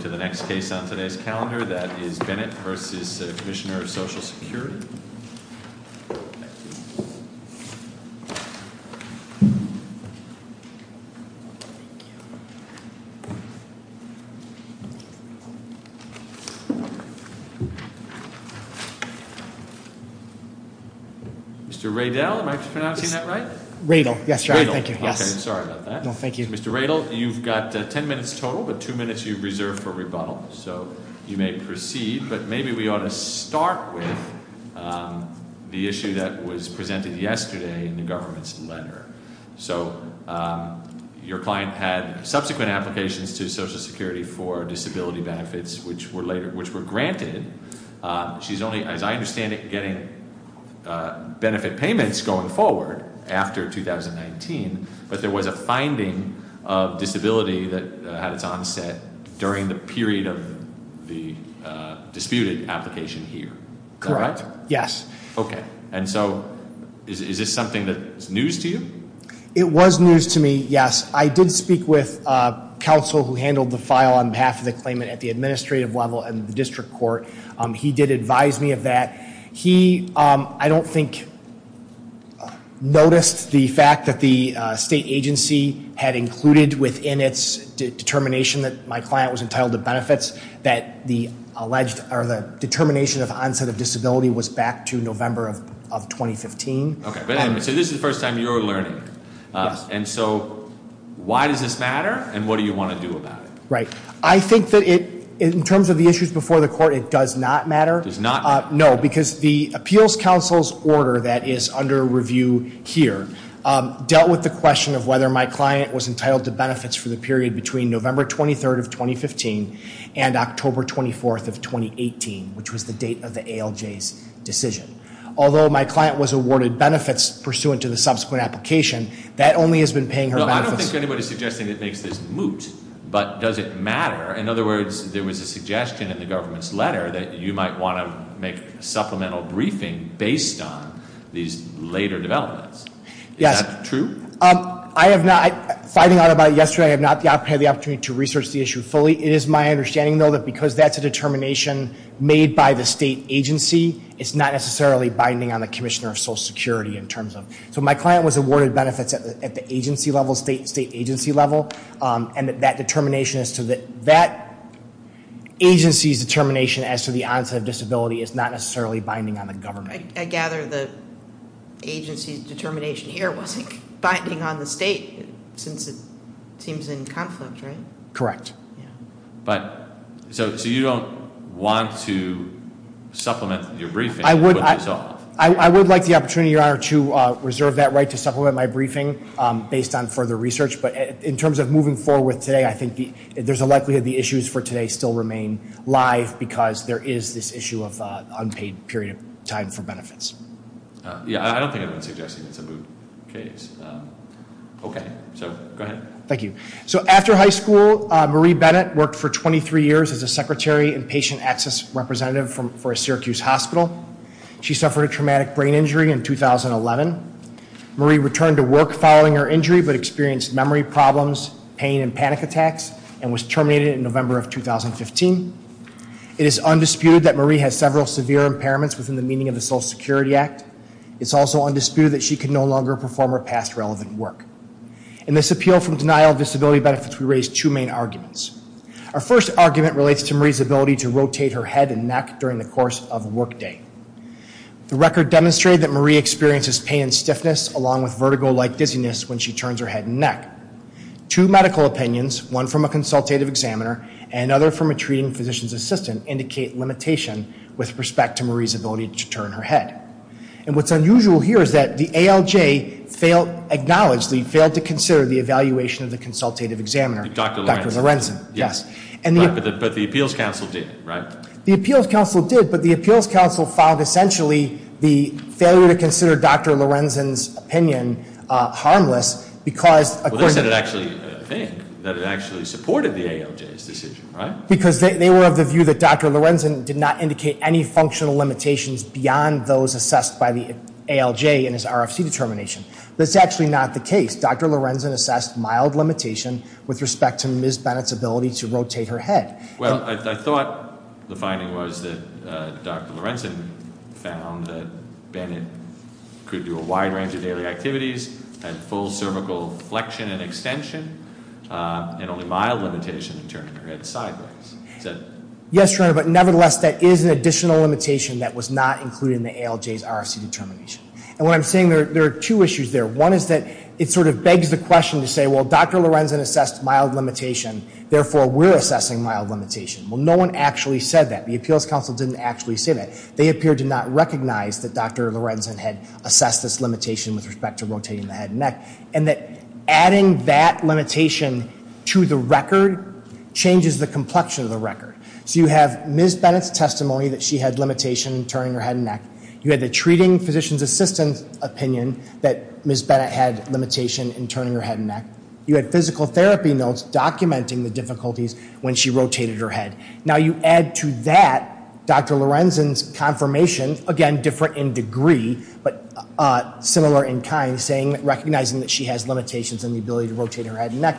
to the next case on today's calendar. That is Bennett v. Commissioner of Social Security. Mr. Radel, am I pronouncing that right? Radel, yes. Sorry about that. Mr. Radel, you've got ten minutes total, but two minutes you reserve for rebuttal. So you may proceed, but maybe we ought to start with the issue that was presented yesterday in the government's letter. So your client had subsequent applications to Social Security for disability benefits which were granted. She's only, as I understand it, getting benefit payments going forward after 2019, but there was a finding of disability that had its onset during the period of the disputed application here. Correct, yes. Okay, and so is this something that's news to you? It was news to me, yes. I did speak with counsel who handled the file on behalf of the claimant at the administrative level and the district court. He did advise me of that. He, I don't think, noticed the fact that the state agency had included within its determination that my client was entitled to benefits that the alleged or the determination of onset of disability was back to November of 2015. Okay, so this is the first time you're learning, and so why does this matter and what do you want to do about it? Right, I think that it, in terms of the issues before the order that is under review here, dealt with the question of whether my client was entitled to benefits for the period between November 23rd of 2015 and October 24th of 2018, which was the date of the ALJ's decision. Although my client was awarded benefits pursuant to the subsequent application, that only has been paying her benefits. I don't think anybody's suggesting it makes this moot, but does it matter? In other words, there was a suggestion in the government's letter that you might want to make a supplemental briefing based on these later developments. Yes. Is that true? I have not, finding out about it yesterday, I have not had the opportunity to research the issue fully. It is my understanding, though, that because that's a determination made by the state agency, it's not necessarily binding on the Commissioner of Social Security in terms of. So my client was awarded benefits at the agency level, state agency level, and that determination as to that agency's rights to the onset of disability is not necessarily binding on the government. I gather the agency's determination here wasn't binding on the state, since it seems in conflict, right? Correct. But, so you don't want to supplement your briefing? I would like the opportunity, Your Honor, to reserve that right to supplement my briefing based on further research, but in terms of moving forward with today, I think there's a likelihood the issues for today still remain live because there is this issue of unpaid period of time for benefits. Yeah, I don't think anyone's suggesting it's a moot case. Okay, so go ahead. Thank you. So after high school, Marie Bennett worked for 23 years as a secretary and patient access representative for a Syracuse hospital. She suffered a traumatic brain injury in 2011. Marie returned to work following her injury, but experienced memory problems, pain and panic attacks, and was terminated in November of 2015. It is undisputed that Marie has several severe impairments within the meaning of the Social Security Act. It's also undisputed that she can no longer perform her past relevant work. In this appeal from denial of disability benefits, we raise two main arguments. Our first argument relates to Marie's ability to rotate her head and neck during the course of workday. The record demonstrated that Marie experiences pain and stiffness along with vertigo-like dizziness when she turns her head and neck. Two medical opinions, one from a consultative examiner and another from a treating physician's assistant, indicate limitation with respect to Marie's ability to turn her head. And what's unusual here is that the ALJ acknowledgedly failed to consider the evaluation of the consultative examiner, Dr. Lorenzen. But the appeals counsel did, right? The appeals counsel did, but the appeals counsel found essentially the failure to consider Dr. Lorenzen's opinion harmless because- Well, they said it actually, that it actually supported the ALJ's decision, right? Because they were of the view that Dr. Lorenzen did not indicate any functional limitations beyond those assessed by the ALJ in his RFC determination. That's actually not the case. Dr. Lorenzen assessed mild limitation with respect to Ms. Bennett's ability to rotate her head. Well, I thought the finding was that Dr. Lorenzen found that Bennett could do a wide range of daily activities, had full cervical flexion and extension, and only mild limitation in turning her head sideways. Yes, Your Honor, but nevertheless, that is an additional limitation that was not included in the ALJ's RFC determination. And what I'm saying, there are two issues there. One is that it sort of begs the question to say, well, Dr. Lorenzen assessed mild limitation, therefore, we're assessing mild limitation. Well, no one actually said that. The appeals counsel didn't actually say that. They appeared to not recognize that Dr. Lorenzen had assessed this limitation with respect to rotating the head and neck. And that adding that limitation to the record changes the complexion of the record. So you have Ms. Bennett's testimony that she had limitation in turning her head and neck. You had the treating physician's assistant's opinion that Ms. Bennett had limitation in turning her head and neck. You had physical therapy notes documenting the difficulties when she rotated her head. Now, you add to that Dr. Lorenzen's confirmation, again, different in degree, but similar in kind, recognizing that she has limitations in the ability to rotate her head and neck.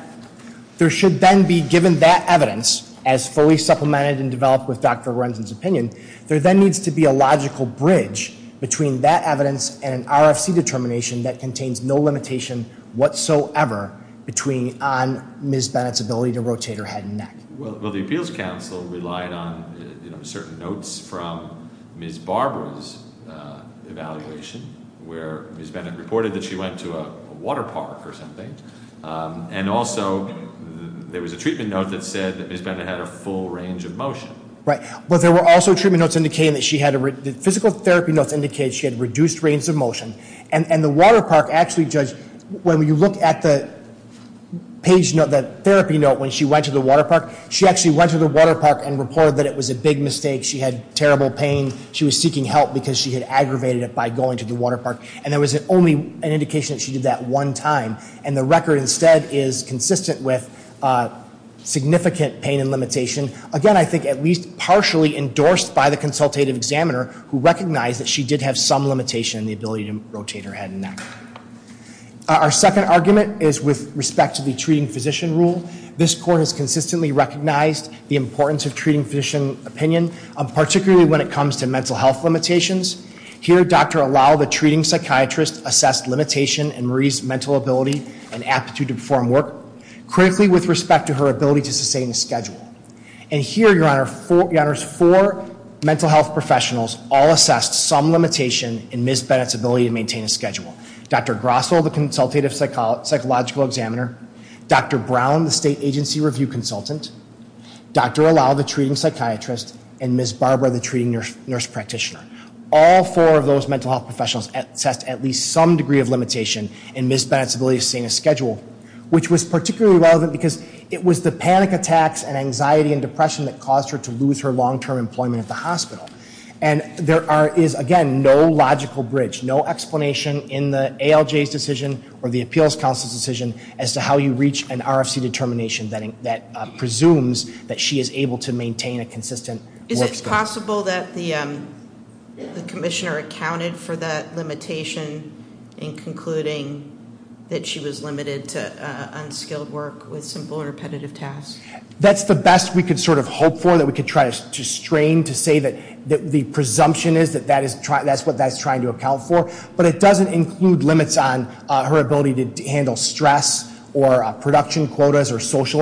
There should then be, given that evidence, as fully supplemented and developed with Dr. Lorenzen's opinion, there then needs to be a logical bridge between that evidence and an RFC determination that contains no limitation whatsoever between on Ms. Bennett's ability to rotate her head and neck. Well, the appeals counsel relied on certain notes from Ms. Barbara's evaluation, where Ms. Bennett reported that she went to a water park or something. And also, there was a treatment note that said that Ms. Bennett had a full range of motion. But there were also treatment notes indicating that she had, physical therapy notes indicated she had reduced range of motion. And the water park actually judged, when you look at the therapy note when she went to the water park, she actually went to the water park and reported that it was a big mistake, she had terrible pain, she was seeking help because she had aggravated it by going to the water park, and there was only an indication that she did that one time. And the record instead is consistent with significant pain and limitation. Again, I think at least partially endorsed by the consultative examiner who recognized that she did have some limitation in the ability to rotate her head and neck. Our second argument is with respect to the treating physician rule. This court has consistently recognized the importance of treating physician opinion, particularly when it comes to mental health limitations. Here, Dr. Allow, the treating psychiatrist, assessed limitation in Marie's mental ability and here, your honor, four mental health professionals all assessed some limitation in Ms. Bennett's ability to maintain a schedule. Dr. Grosso, the consultative psychological examiner, Dr. Brown, the state agency review consultant, Dr. Allow, the treating psychiatrist, and Ms. Barbara, the treating nurse practitioner. All four of those mental health professionals assessed at least some degree of limitation in Ms. Bennett's ability to sustain a schedule. Which was particularly relevant because it was the panic attacks and anxiety and depression that caused her to lose her long term employment at the hospital. And there is, again, no logical bridge, no explanation in the ALJ's decision or the appeals council's decision as to how you reach an RFC determination that presumes that she is able to maintain a consistent work schedule. Is it possible that the commissioner accounted for that limitation in concluding that she was limited to unskilled work with simple repetitive tasks? That's the best we could sort of hope for, that we could try to strain to say that the presumption is that that's what that's trying to account for. But it doesn't include limits on her ability to handle stress or production quotas or what we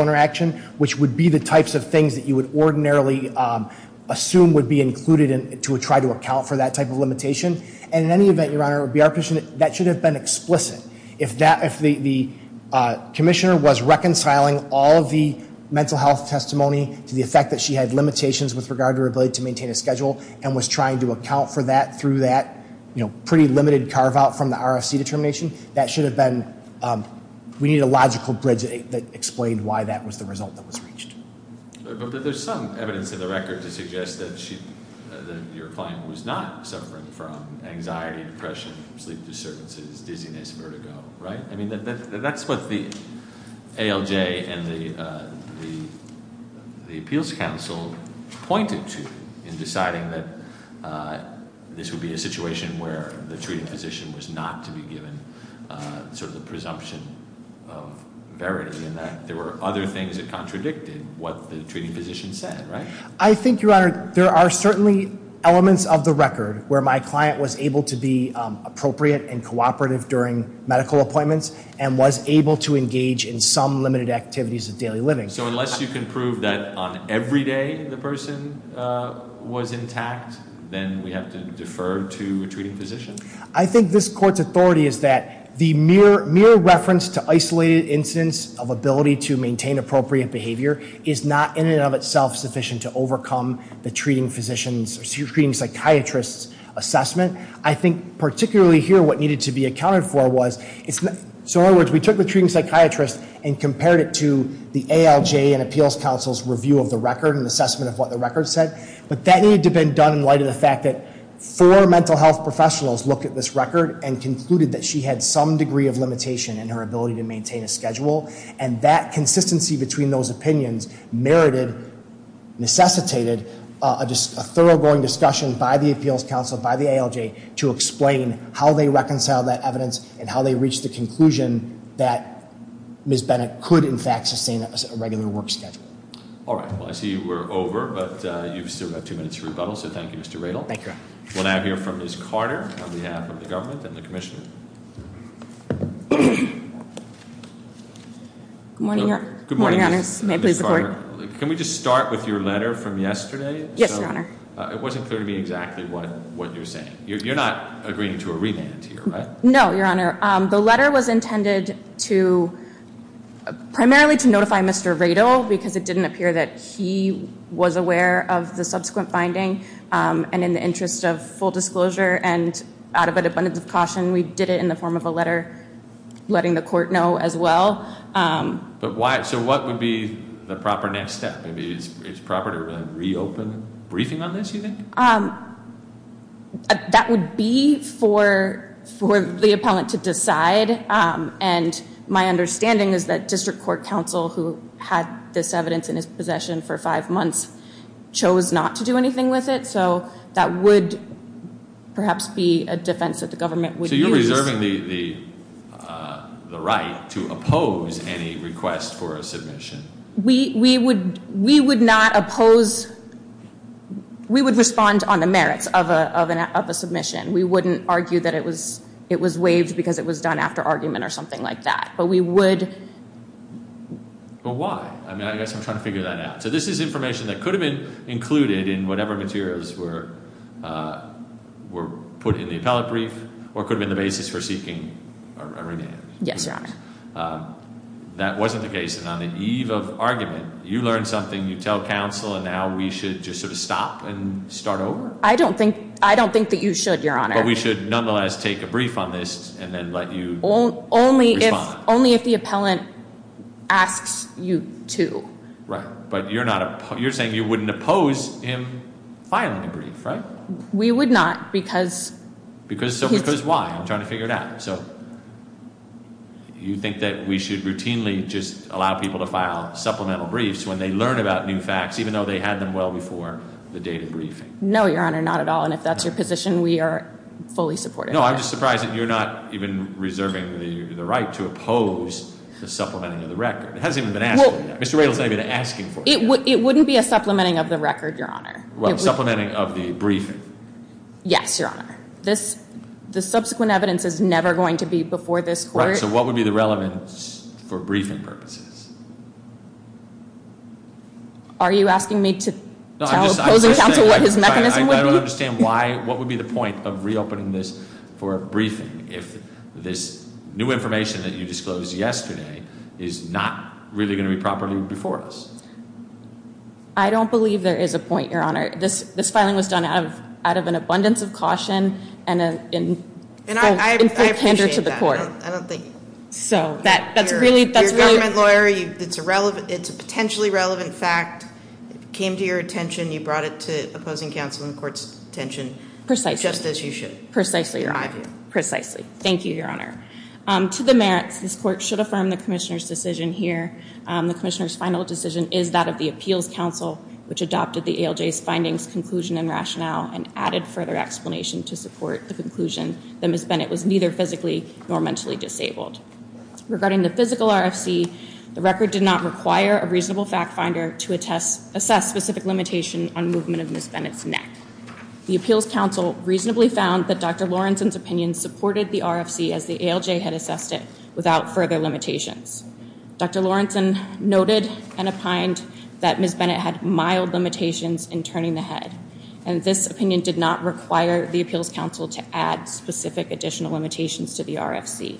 would ordinarily assume would be included to try to account for that type of limitation. And in any event, your honor, that should have been explicit. If the commissioner was reconciling all of the mental health testimony to the effect that she had limitations with regard to her ability to maintain a schedule. And was trying to account for that through that pretty limited carve out from the RFC determination. That should have been, we need a logical bridge that explained why that was the result that was reached. But there's some evidence in the record to suggest that your client was not suffering from anxiety, depression, sleep disturbances, dizziness, vertigo, right? I mean, that's what the ALJ and the appeals council pointed to in deciding that this would be a situation where the treating physician was not to be given sort of the presumption of verity. And that there were other things that contradicted what the treating physician said, right? I think, your honor, there are certainly elements of the record where my client was able to be appropriate and cooperative during medical appointments and was able to engage in some limited activities of daily living. So unless you can prove that on every day the person was intact, then we have to defer to a treating physician. I think this court's authority is that the mere reference to isolated incidents of ability to maintain appropriate behavior is not in and of itself sufficient to overcome the treating psychiatrist's assessment. I think particularly here what needed to be accounted for was, so in other words, we took the treating psychiatrist and compared it to the ALJ and appeals council's review of the record and assessment of what the record said. But that needed to have been done in light of the fact that four mental health professionals looked at this record and concluded that she had some degree of limitation in her ability to maintain a schedule. And that consistency between those opinions merited, necessitated, a thorough going discussion by the appeals council, by the ALJ, to explain how they reconciled that evidence and how they reached the conclusion that Ms. Bennett could in fact sustain a regular work schedule. All right, well I see we're over, but you've still got two minutes to rebuttal, so thank you, Mr. Radel. We'll now hear from Ms. Carter on behalf of the government and the commissioner. Good morning, your honors. May I please report? Can we just start with your letter from yesterday? Yes, your honor. It wasn't clear to me exactly what you're saying. You're not agreeing to a remand here, right? No, your honor. The letter was intended to, primarily to notify Mr. Radel, because it didn't appear that he was aware of the subsequent finding. And in the interest of full disclosure and out of an abundance of caution, we did it in the form of a letter letting the court know as well. But why, so what would be the proper next step? Maybe it's proper to reopen briefing on this, you think? That would be for the appellant to decide. And my understanding is that district court counsel, who had this evidence in his possession for five months, chose not to do anything with it. So that would perhaps be a defense that the government would use. So you're reserving the right to oppose any request for a submission? We would not oppose, we would respond on the merits of a submission. We wouldn't argue that it was waived because it was done after argument or something like that. But we would- But why? I mean, I guess I'm trying to figure that out. So this is information that could have been included in whatever materials were put in the appellate brief, or could have been the basis for seeking a remand. Yes, your honor. That wasn't the case, and on the eve of argument, you learn something, you tell counsel, and now we should just sort of stop and start over? I don't think that you should, your honor. But we should nonetheless take a brief on this, and then let you respond. Only if the appellant asks you to. Right, but you're saying you wouldn't oppose him filing a brief, right? We would not, because- Because why? I'm trying to figure it out. So you think that we should routinely just allow people to file supplemental briefs when they learn about new facts, even though they had them well before the date of briefing? No, your honor, not at all. And if that's your position, we are fully supportive of that. No, I'm just surprised that you're not even reserving the right to oppose the supplementing of the record. It hasn't even been asked for yet. Mr. Radels may have been asking for it. It wouldn't be a supplementing of the record, your honor. Well, supplementing of the briefing. Yes, your honor. The subsequent evidence is never going to be before this court. Right, so what would be the relevance for briefing purposes? Are you asking me to tell opposing counsel what his mechanism would be? I don't understand why, what would be the point of reopening this for a briefing, if this new information that you disclosed yesterday is not really going to be properly before us? I don't believe there is a point, your honor. This filing was done out of an abundance of caution and in full candor to the court. And I appreciate that, but I don't think your government lawyer, it's a potentially relevant fact. It came to your attention, you brought it to opposing counsel and the court's attention. Precisely. Just as you should. Precisely, your honor. Precisely. Thank you, your honor. To the merits, this court should affirm the commissioner's decision here. The commissioner's final decision is that of the appeals counsel, which adopted the ALJ's findings, conclusion and rationale and added further explanation to support the conclusion that Ms. Bennett was neither physically nor mentally disabled. Regarding the physical RFC, the record did not require a reasonable fact finder to assess specific limitation on movement of Ms. Bennett's neck. The appeals counsel reasonably found that Dr. Lawrenson's opinion supported the RFC as the ALJ had assessed it without further limitations. Dr. Lawrenson noted and opined that Ms. Bennett had mild limitations in turning the head. And this opinion did not require the appeals counsel to add specific additional limitations to the RFC.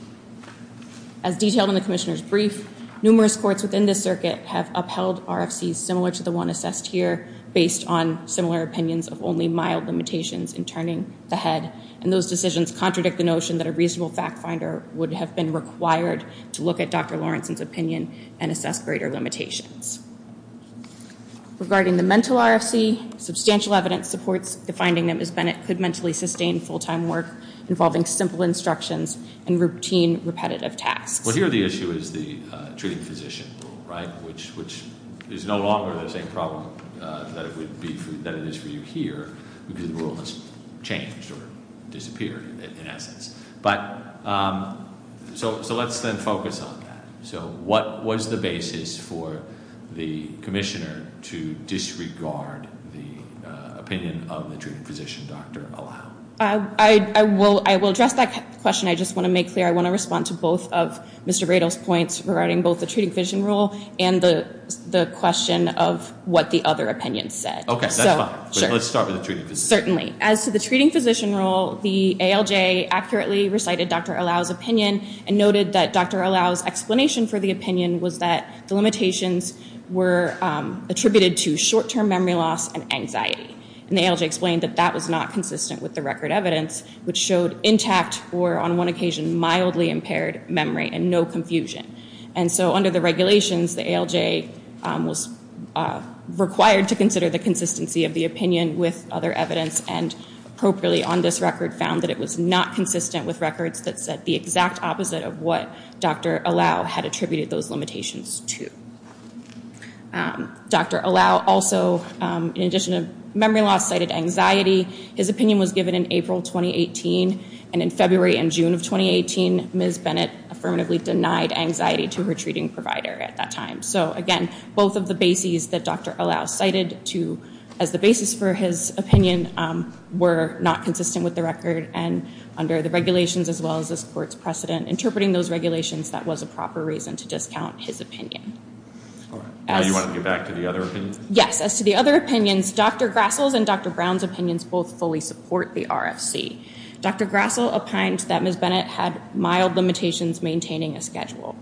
As detailed in the commissioner's brief, numerous courts within this circuit have upheld RFCs similar to the one assessed here based on similar opinions of only mild limitations in turning the head. And those decisions contradict the notion that a reasonable fact finder would have been required to look at Dr. Lawrenson's opinion and assess greater limitations. Regarding the mental RFC, substantial evidence supports the finding that Ms. Bennett could mentally sustain full-time work involving simple instructions and routine repetitive tasks. Well, here the issue is the treating physician rule, right, which is no longer the same problem that it is for you here because the rule has changed or disappeared in essence. But so let's then focus on that. So what was the basis for the commissioner to disregard the opinion of the treating physician, Dr. Allow? I will address that question. I just want to make clear, I want to respond to both of Mr. Rado's points regarding both the treating physician rule and the question of what the other opinion said. Okay, that's fine. But let's start with the treating physician rule. Certainly. As to the treating physician rule, the ALJ accurately recited Dr. Allow's opinion and noted that Dr. Allow's explanation for the opinion was that the limitations were attributed to short-term memory loss and anxiety. And the ALJ explained that that was not consistent with the record evidence, which showed intact or on one occasion mildly impaired memory and no confusion. And so under the regulations, the ALJ was required to consider the consistency of the opinion with other evidence and appropriately on this record found that it was not consistent with records that said the exact opposite of what Dr. Allow had attributed those limitations to. Dr. Allow also, in addition to memory loss, cited anxiety. His opinion was given in April 2018. And in February and June of 2018, Ms. Bennett affirmatively denied anxiety to her treating provider at that time. So again, both of the bases that Dr. Allow cited to as the basis for his opinion were not consistent with the record. And under the regulations, as well as this Court's precedent, interpreting those regulations, that was a proper reason to discount his opinion. As to the other opinions, Dr. Grassl's and Dr. Brown's opinions both fully support the RFC. Dr. Grassl opined that Ms. Bennett had mild limitations maintaining a schedule.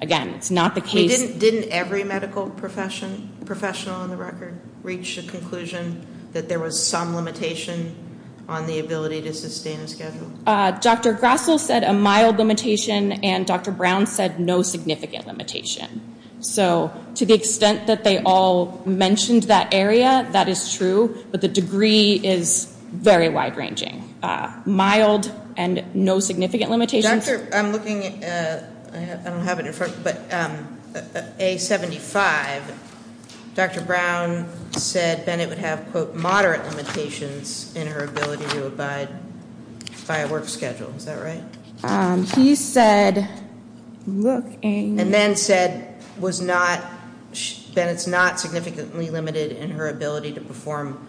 Again, it's not the case. Didn't every medical professional on the record reach a conclusion that there was some limitation on the ability to sustain a schedule? Dr. Grassl said a mild limitation and Dr. Brown said no significant limitation. So to the extent that they all mentioned that area, that is true. But the degree is very wide-ranging. Mild and no significant limitations. Dr., I'm looking at, I don't have it in front, but A75, Dr. Brown said Bennett would have, quote, moderate limitations in her ability to abide by a work schedule, is that right? He said, looking. And then said was not, Bennett's not significantly limited in her ability to perform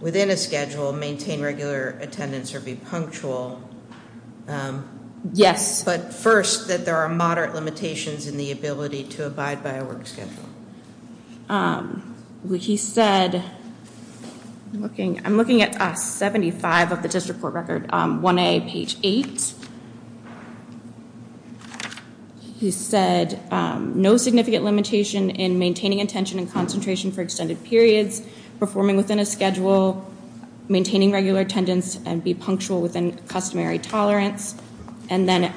within a schedule, maintain regular attendance or be punctual. Yes. But first, that there are moderate limitations in the ability to abide by a work schedule. He said, looking, I'm looking at A75 of the district court record, 1A, page 8. He said no significant limitation in maintaining attention and concentration for extended periods, performing within a schedule, maintaining regular attendance and be punctual within customary tolerance. And then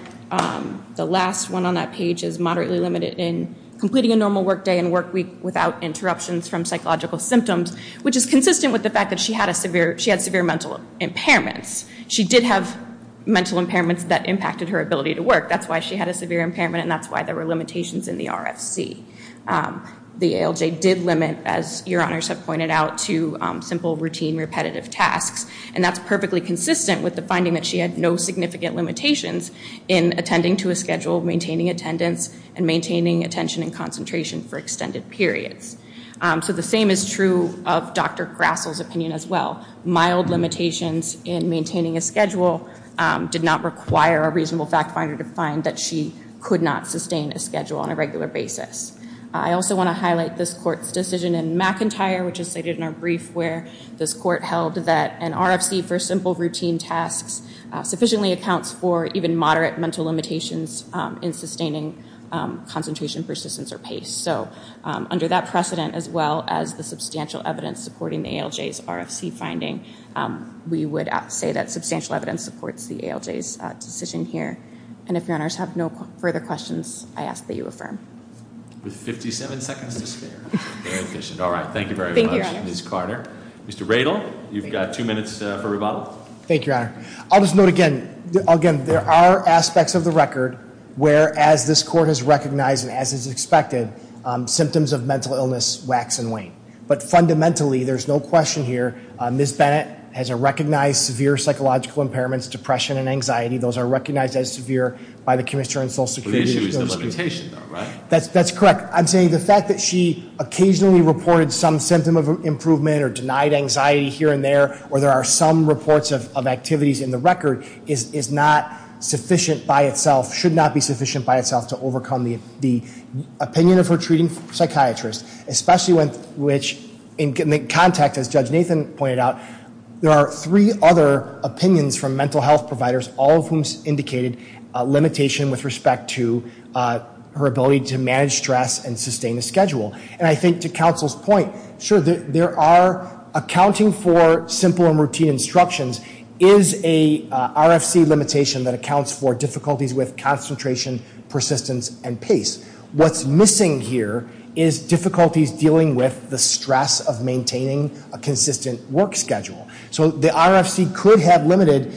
the last one on that page is moderately limited in completing a normal work day and work week without interruptions from psychological symptoms, which is consistent with the fact that she had severe mental impairments. She did have mental impairments that impacted her ability to work. That's why she had a severe impairment and that's why there were limitations in the RFC. The ALJ did limit, as your honors have pointed out, to simple routine repetitive tasks. And that's perfectly consistent with the finding that she had no significant limitations in attending to a schedule, maintaining attendance and maintaining attention and concentration for extended periods. So the same is true of Dr. Grassl's opinion as well. Mild limitations in maintaining a schedule did not require a reasonable fact finder to find that she could not sustain a schedule on a regular basis. I also want to highlight this court's decision in McIntyre, which is stated in our brief where this court held that an RFC for simple routine tasks sufficiently accounts for even moderate mental limitations in sustaining concentration, persistence or pace. So under that precedent as well as the substantial evidence supporting the ALJ's RFC finding, we would say that substantial evidence supports the ALJ's decision here. And if your honors have no further questions, I ask that you affirm. With 57 seconds to spare, very efficient. All right, thank you very much, Ms. Carter. Mr. Radle, you've got two minutes for rebuttal. Thank you, your honor. I'll just note again, there are aspects of the record where, as this court has recognized and as is expected, symptoms of mental illness wax and wane. But fundamentally, there's no question here, Ms. Bennett has a recognized severe psychological impairments, depression and anxiety. Those are recognized as severe by the Commissioner on Social Security. But the issue is the limitation though, right? That's correct. I'm saying the fact that she occasionally reported some symptom of improvement or denied anxiety here and there, or there are some reports of activities in the record, is not sufficient by itself, should not be sufficient by itself to overcome the opinion of her treating psychiatrist. Especially when, which in the context, as Judge Nathan pointed out, there are three other opinions from mental health providers, all of whom indicated limitation with respect to her ability to manage stress and sustain a schedule. And I think to counsel's point, sure, there are accounting for simple and routine instructions is a RFC limitation that accounts for difficulties with concentration, persistence, and pace. What's missing here is difficulties dealing with the stress of maintaining a consistent work schedule. So the RFC could have limited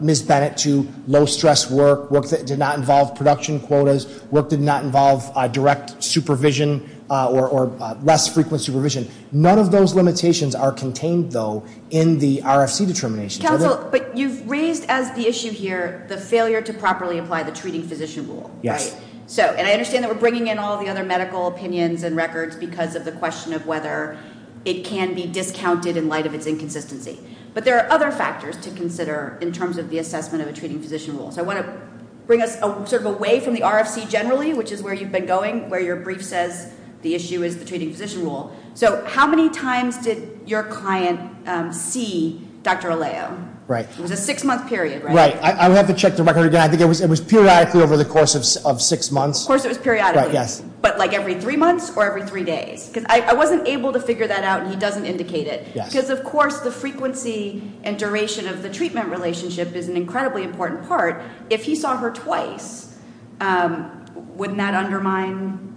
Ms. Bennett to low stress work, work that did not involve production quotas, work that did not involve direct supervision or less frequent supervision. None of those limitations are contained though in the RFC determination. Counsel, but you've raised as the issue here the failure to properly apply the treating physician rule, right? Yes. So, and I understand that we're bringing in all the other medical opinions and records because of the question of whether it can be discounted in light of its inconsistency. But there are other factors to consider in terms of the assessment of a treating physician rule. So I want to bring us sort of away from the RFC generally, which is where you've been going, where your brief says the issue is the treating physician rule. So how many times did your client see Dr. Alejo? Right. It was a six month period, right? Right. I would have to check the record again. I think it was periodically over the course of six months. Of course it was periodically. Right, yes. But like every three months or every three days? Because I wasn't able to figure that out and he doesn't indicate it. Because of course the frequency and duration of the treatment relationship is an incredibly important part. If he saw her twice, wouldn't that undermine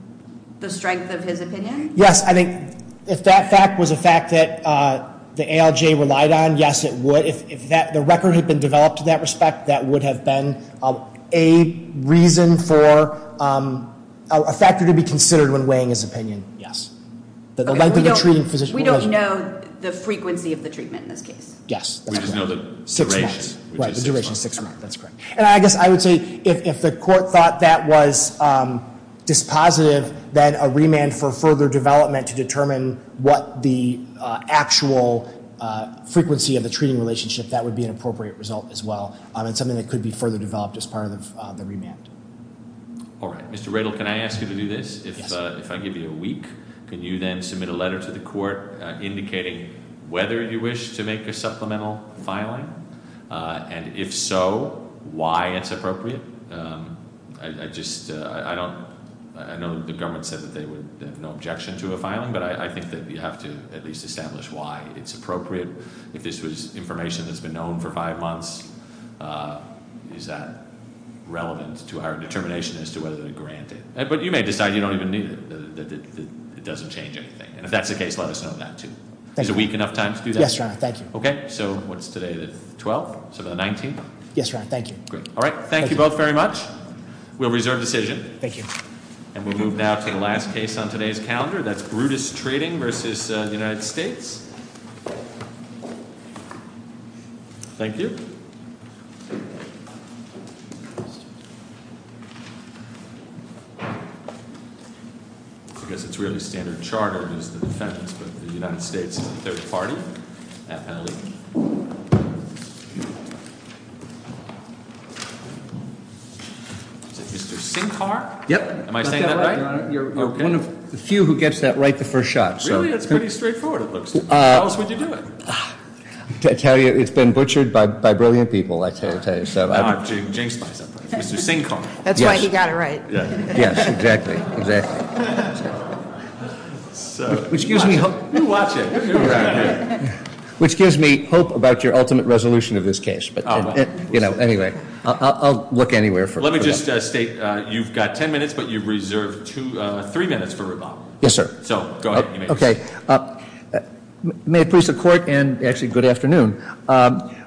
the strength of his opinion? Yes, I think if that fact was a fact that the ALJ relied on, yes it would. If the record had been developed in that respect, that would have been a reason for a factor to be considered when weighing his opinion, yes. The length of the treating physician- We don't know the frequency of the treatment in this case. Yes, that's correct. We just know the duration. Right, the duration is six months, that's correct. And I guess I would say if the court thought that was dispositive, then a remand for further development to determine what the actual frequency of the treating relationship, that would be an appropriate result as well. And something that could be further developed as part of the remand. All right, Mr. Riddle, can I ask you to do this? Yes, sir. If I give you a week, can you then submit a letter to the court indicating whether you wish to make a supplemental filing? And if so, why it's appropriate? I just, I don't, I know the government said that they would have no objection to a filing, but I think that you have to at least establish why it's appropriate. If this was information that's been known for five months, is that relevant to our determination as to whether to grant it? But you may decide you don't even need it, that it doesn't change anything. And if that's the case, let us know that too. Is a week enough time to do that? Yes, Your Honor, thank you. Okay, so what's today, the 12th, so the 19th? Yes, Your Honor, thank you. Great, all right, thank you both very much. We'll reserve decision. Thank you. And we'll move now to the last case on today's calendar. That's Brutus Treating versus the United States. Thank you. I guess it's really standard charter, it is the defense, but the United States is a third party. Is it Mr. Sinkar? Yep. Am I saying that right? You're one of the few who gets that right the first shot. Really? That's pretty straightforward, it looks like. How else would you do it? I tell you, it's been butchered by brilliant people, I tell you. I'm jinxed by something. Mr. Sinkar. That's why he got it right. Yes, exactly, exactly. Which gives me hope. You watch it. Which gives me hope about your ultimate resolution of this case. You know, anyway, I'll look anywhere for it. Let me just state, you've got ten minutes, but you've reserved three minutes for rebuttal. Yes, sir. So, go ahead. Okay. May it please the court, and actually, good afternoon.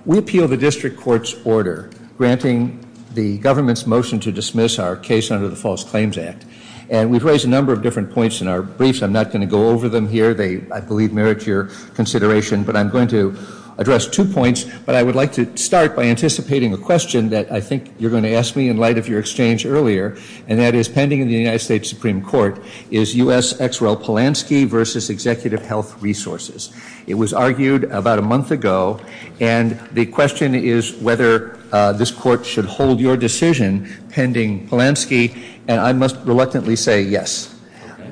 We appeal the district court's order granting the government's motion to dismiss our case under the False Claims Act. And we've raised a number of different points in our briefs. I'm not going to go over them here. They, I believe, merit your consideration. But I'm going to address two points. But I would like to start by anticipating a question that I think you're going to ask me in light of your exchange earlier. And that is, pending in the United States Supreme Court, is U.S. ex-rel Polanski versus Executive Health Resources. It was argued about a month ago. And the question is whether this court should hold your decision pending Polanski. And I must reluctantly say yes.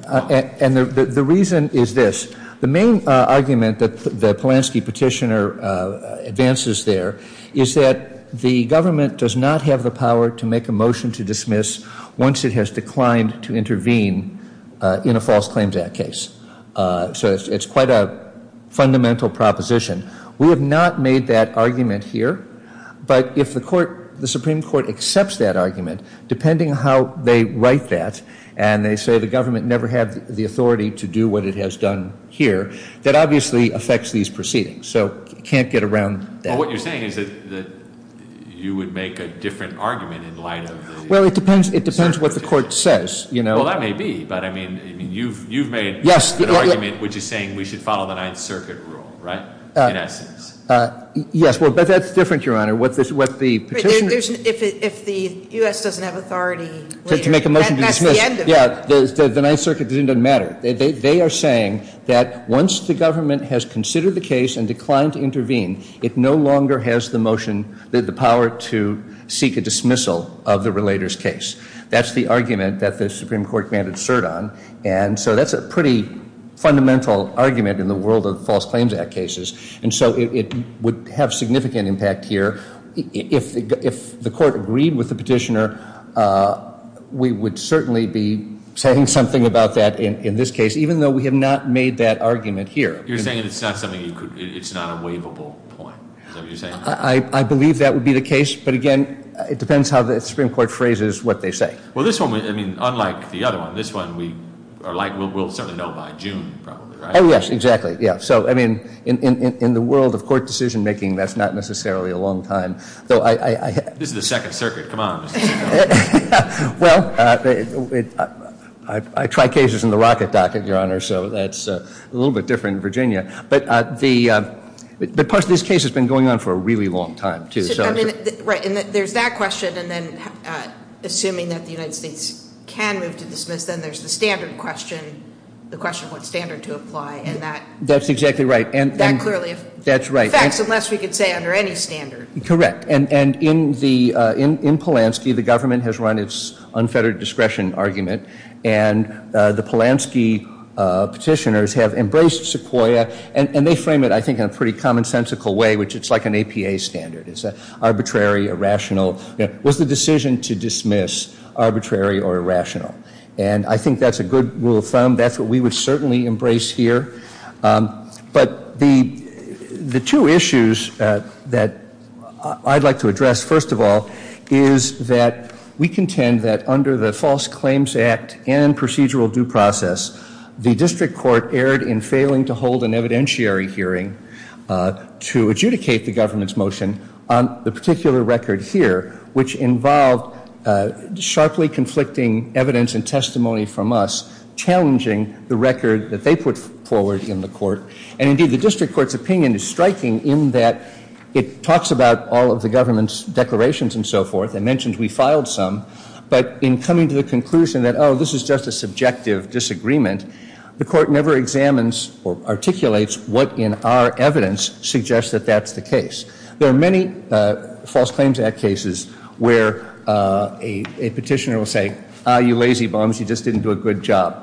And the reason is this. The main argument that the Polanski petitioner advances there is that the government does not have the power to make a motion to dismiss once it has declined to intervene in a False Claims Act case. So it's quite a fundamental proposition. We have not made that argument here. But if the Supreme Court accepts that argument, depending on how they write that, and they say the government never had the authority to do what it has done here, that obviously affects these proceedings. So you can't get around that. Well, what you're saying is that you would make a different argument in light of the ex-rel Polanski petitioner. Well, it depends what the court says. Well, that may be. But, I mean, you've made an argument which is saying we should follow the Ninth Circuit rule, right, in essence. Yes. But that's different, Your Honor. If the U.S. doesn't have authority later, that's the end of it. Yeah, the Ninth Circuit doesn't matter. They are saying that once the government has considered the case and declined to intervene, it no longer has the power to seek a dismissal of the relator's case. That's the argument that the Supreme Court commanded cert on. And so that's a pretty fundamental argument in the world of False Claims Act cases. And so it would have significant impact here. If the court agreed with the petitioner, we would certainly be saying something about that in this case, even though we have not made that argument here. You're saying it's not a waivable point. Is that what you're saying? I believe that would be the case. But, again, it depends how the Supreme Court phrases what they say. Well, this one, I mean, unlike the other one, this one we'll certainly know by June probably, right? Oh, yes, exactly. Yeah, so, I mean, in the world of court decision-making, that's not necessarily a long time. This is the Second Circuit. Come on. Well, I try cases in the rocket docket, Your Honor, so that's a little bit different in Virginia. But part of this case has been going on for a really long time, too. Right, and there's that question, and then assuming that the United States can move to dismiss, then there's the standard question, the question of what standard to apply. That's exactly right. That clearly affects, unless we could say under any standard. Correct, and in Polanski, the government has run its unfettered discretion argument, and the Polanski petitioners have embraced Sequoia, and they frame it, I think, in a pretty commonsensical way, which it's like an APA standard. It's arbitrary, irrational. Was the decision to dismiss arbitrary or irrational? And I think that's a good rule of thumb. That's what we would certainly embrace here. But the two issues that I'd like to address, first of all, is that we contend that under the False Claims Act and procedural due process, the district court erred in failing to hold an evidentiary hearing to adjudicate the government's motion on the particular record here, which involved sharply conflicting evidence and testimony from us, challenging the record that they put forward in the court. And indeed, the district court's opinion is striking in that it talks about all of the government's declarations and so forth. It mentions we filed some. But in coming to the conclusion that, oh, this is just a subjective disagreement, the court never examines or articulates what in our evidence suggests that that's the case. There are many False Claims Act cases where a petitioner will say, ah, you lazy bums, you just didn't do a good job.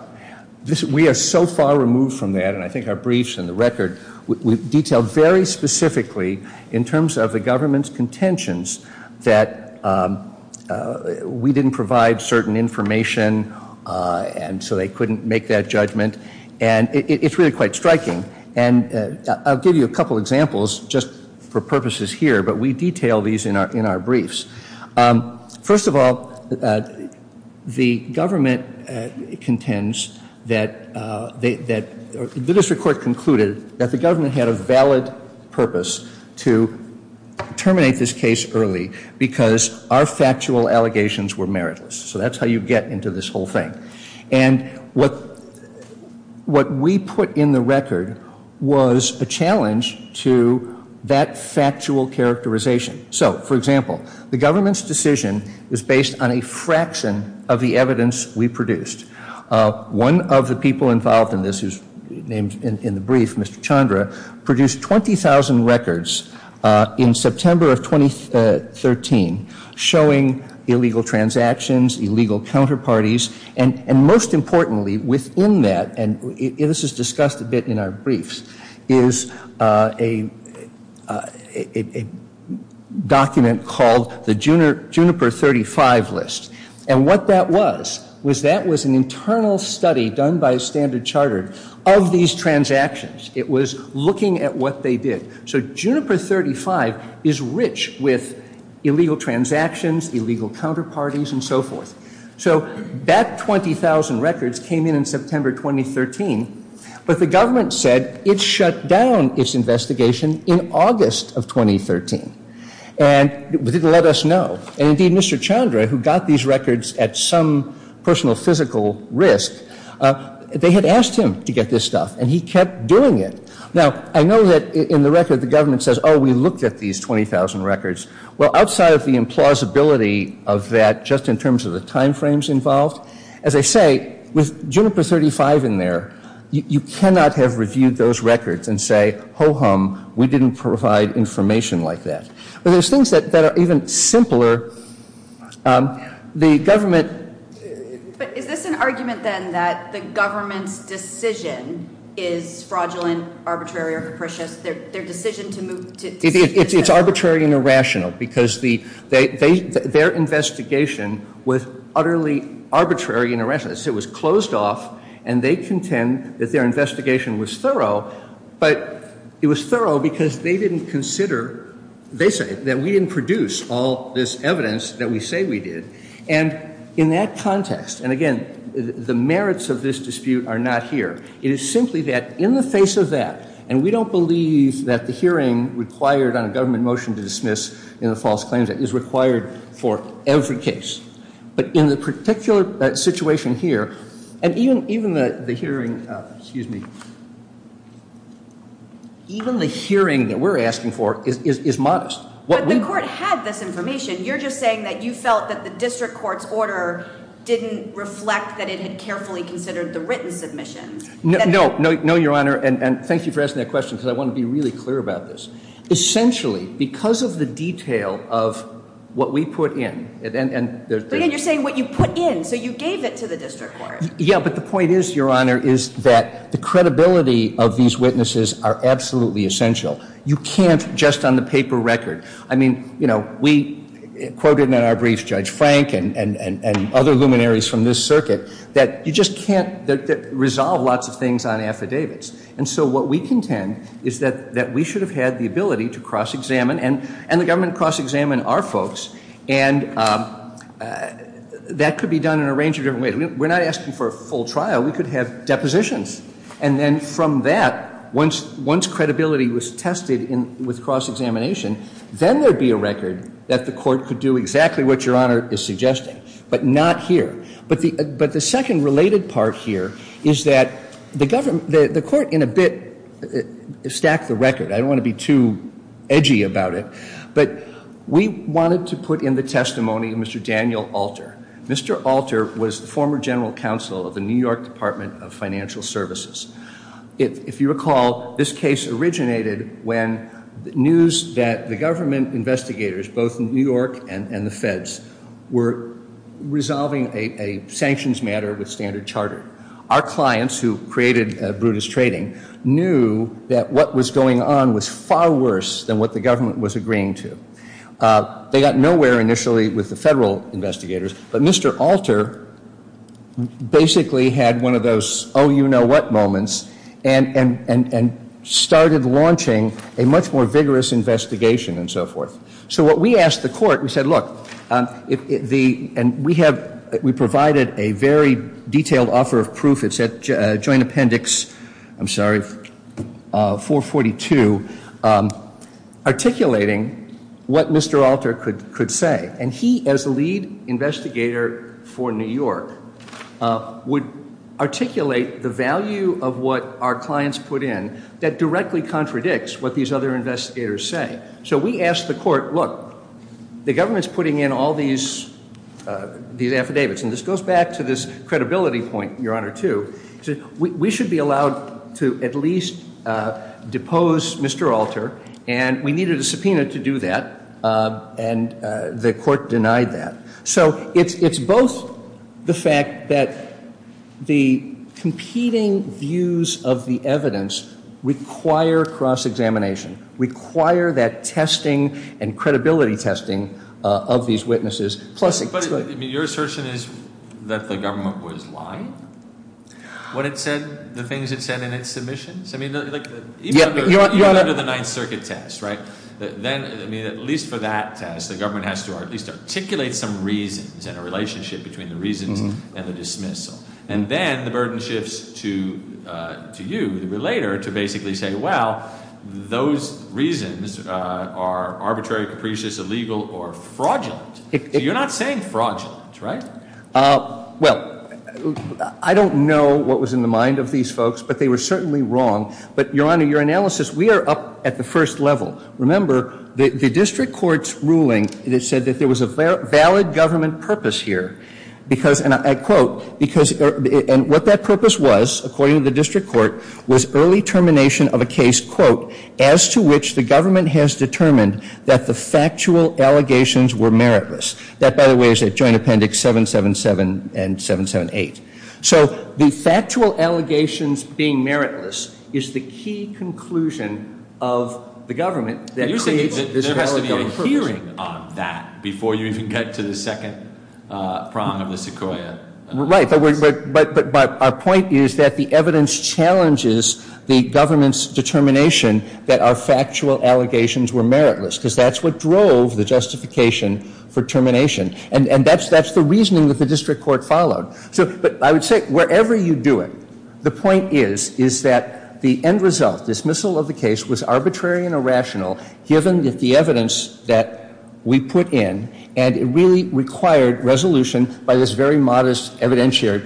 We are so far removed from that, and I think our briefs and the record detail very specifically in terms of the government's contentions that we didn't provide certain information, and so they couldn't make that judgment. And it's really quite striking. And I'll give you a couple examples just for purposes here, but we detail these in our briefs. First of all, the government contends that the district court concluded that the government had a valid purpose to terminate this case early because our factual allegations were meritless. So that's how you get into this whole thing. And what we put in the record was a challenge to that factual characterization. So, for example, the government's decision is based on a fraction of the evidence we produced. One of the people involved in this, who's named in the brief, Mr. Chandra, produced 20,000 records in September of 2013 showing illegal transactions, illegal counterparties, and most importantly within that, and this is discussed a bit in our briefs, is a document called the Juniper 35 list. And what that was, was that was an internal study done by Standard Chartered of these transactions. It was looking at what they did. So Juniper 35 is rich with illegal transactions, illegal counterparties, and so forth. So that 20,000 records came in in September 2013, but the government said it shut down its investigation in August of 2013. And it didn't let us know. And, indeed, Mr. Chandra, who got these records at some personal physical risk, they had asked him to get this stuff, and he kept doing it. Now, I know that in the record the government says, oh, we looked at these 20,000 records. Well, outside of the implausibility of that, just in terms of the time frames involved, as I say, with Juniper 35 in there, you cannot have reviewed those records and say, ho-hum, we didn't provide information like that. But there's things that are even simpler. The government... But is this an argument, then, that the government's decision is fraudulent, arbitrary, or capricious? Their decision to move to... It's arbitrary and irrational, because their investigation was utterly arbitrary and irrational. It was closed off, and they contend that their investigation was thorough. But it was thorough because they didn't consider, they say, that we didn't produce all this evidence that we say we did. And in that context, and again, the merits of this dispute are not here. It is simply that in the face of that, and we don't believe that the hearing required on a government motion to dismiss in the false claims act is required for every case. But in the particular situation here, and even the hearing... Excuse me. Even the hearing that we're asking for is modest. But the court had this information. You're just saying that you felt that the district court's order didn't reflect that it had carefully considered the written submission. No, your Honor, and thank you for asking that question, because I want to be really clear about this. Essentially, because of the detail of what we put in... But again, you're saying what you put in, so you gave it to the district court. Yeah, but the point is, your Honor, is that the credibility of these witnesses are absolutely essential. You can't just on the paper record... I mean, you know, we quoted in our brief Judge Frank and other luminaries from this circuit that you just can't resolve lots of things on affidavits. And so what we contend is that we should have had the ability to cross-examine, and the government cross-examined our folks, and that could be done in a range of different ways. We're not asking for a full trial. We could have depositions. And then from that, once credibility was tested with cross-examination, then there would be a record that the court could do exactly what your Honor is suggesting, but not here. But the second related part here is that the court in a bit stacked the record. I don't want to be too edgy about it, but we wanted to put in the testimony of Mr. Daniel Alter. Mr. Alter was the former general counsel of the New York Department of Financial Services. If you recall, this case originated when news that the government investigators, both New York and the Feds, were resolving a sanctions matter with Standard Chartered. Our clients, who created Brutus Trading, knew that what was going on was far worse than what the government was agreeing to. They got nowhere initially with the federal investigators, but Mr. Alter basically had one of those oh-you-know-what moments and started launching a much more vigorous investigation and so forth. So what we asked the court, we said, look, and we provided a very detailed offer of proof. It's at joint appendix, I'm sorry, 442, articulating what Mr. Alter could say. And he, as the lead investigator for New York, would articulate the value of what our clients put in that directly contradicts what these other investigators say. So we asked the court, look, the government's putting in all these affidavits, and this goes back to this credibility point, Your Honor, too. We should be allowed to at least depose Mr. Alter, and we needed a subpoena to do that. And the court denied that. So it's both the fact that the competing views of the evidence require cross-examination, require that testing and credibility testing of these witnesses, plus it's good. But your assertion is that the government was lying when it said the things it said in its submissions? I mean, even under the Ninth Circuit test, right? Then, at least for that test, the government has to at least articulate some reasons and a relationship between the reasons and the dismissal. And then the burden shifts to you, the relator, to basically say, well, those reasons are arbitrary, capricious, illegal, or fraudulent. So you're not saying fraudulent, right? Well, I don't know what was in the mind of these folks, but they were certainly wrong. But, Your Honor, your analysis, we are up at the first level. Remember, the district court's ruling, it said that there was a valid government purpose here. Because, and I quote, and what that purpose was, according to the district court, was early termination of a case, quote, as to which the government has determined that the factual allegations were meritless. That, by the way, is at Joint Appendix 777 and 778. So the factual allegations being meritless is the key conclusion of the government that creates this valid government purpose. You're saying there has to be a hearing on that before you even get to the second prong of the sequoia. Right, but our point is that the evidence challenges the government's determination that our factual allegations were meritless, because that's what drove the justification for termination. And that's the reasoning that the district court followed. So, but I would say, wherever you do it, the point is, is that the end result, dismissal of the case, was arbitrary and irrational, given that the evidence that we put in, and it really required resolution by this very modest evidentiary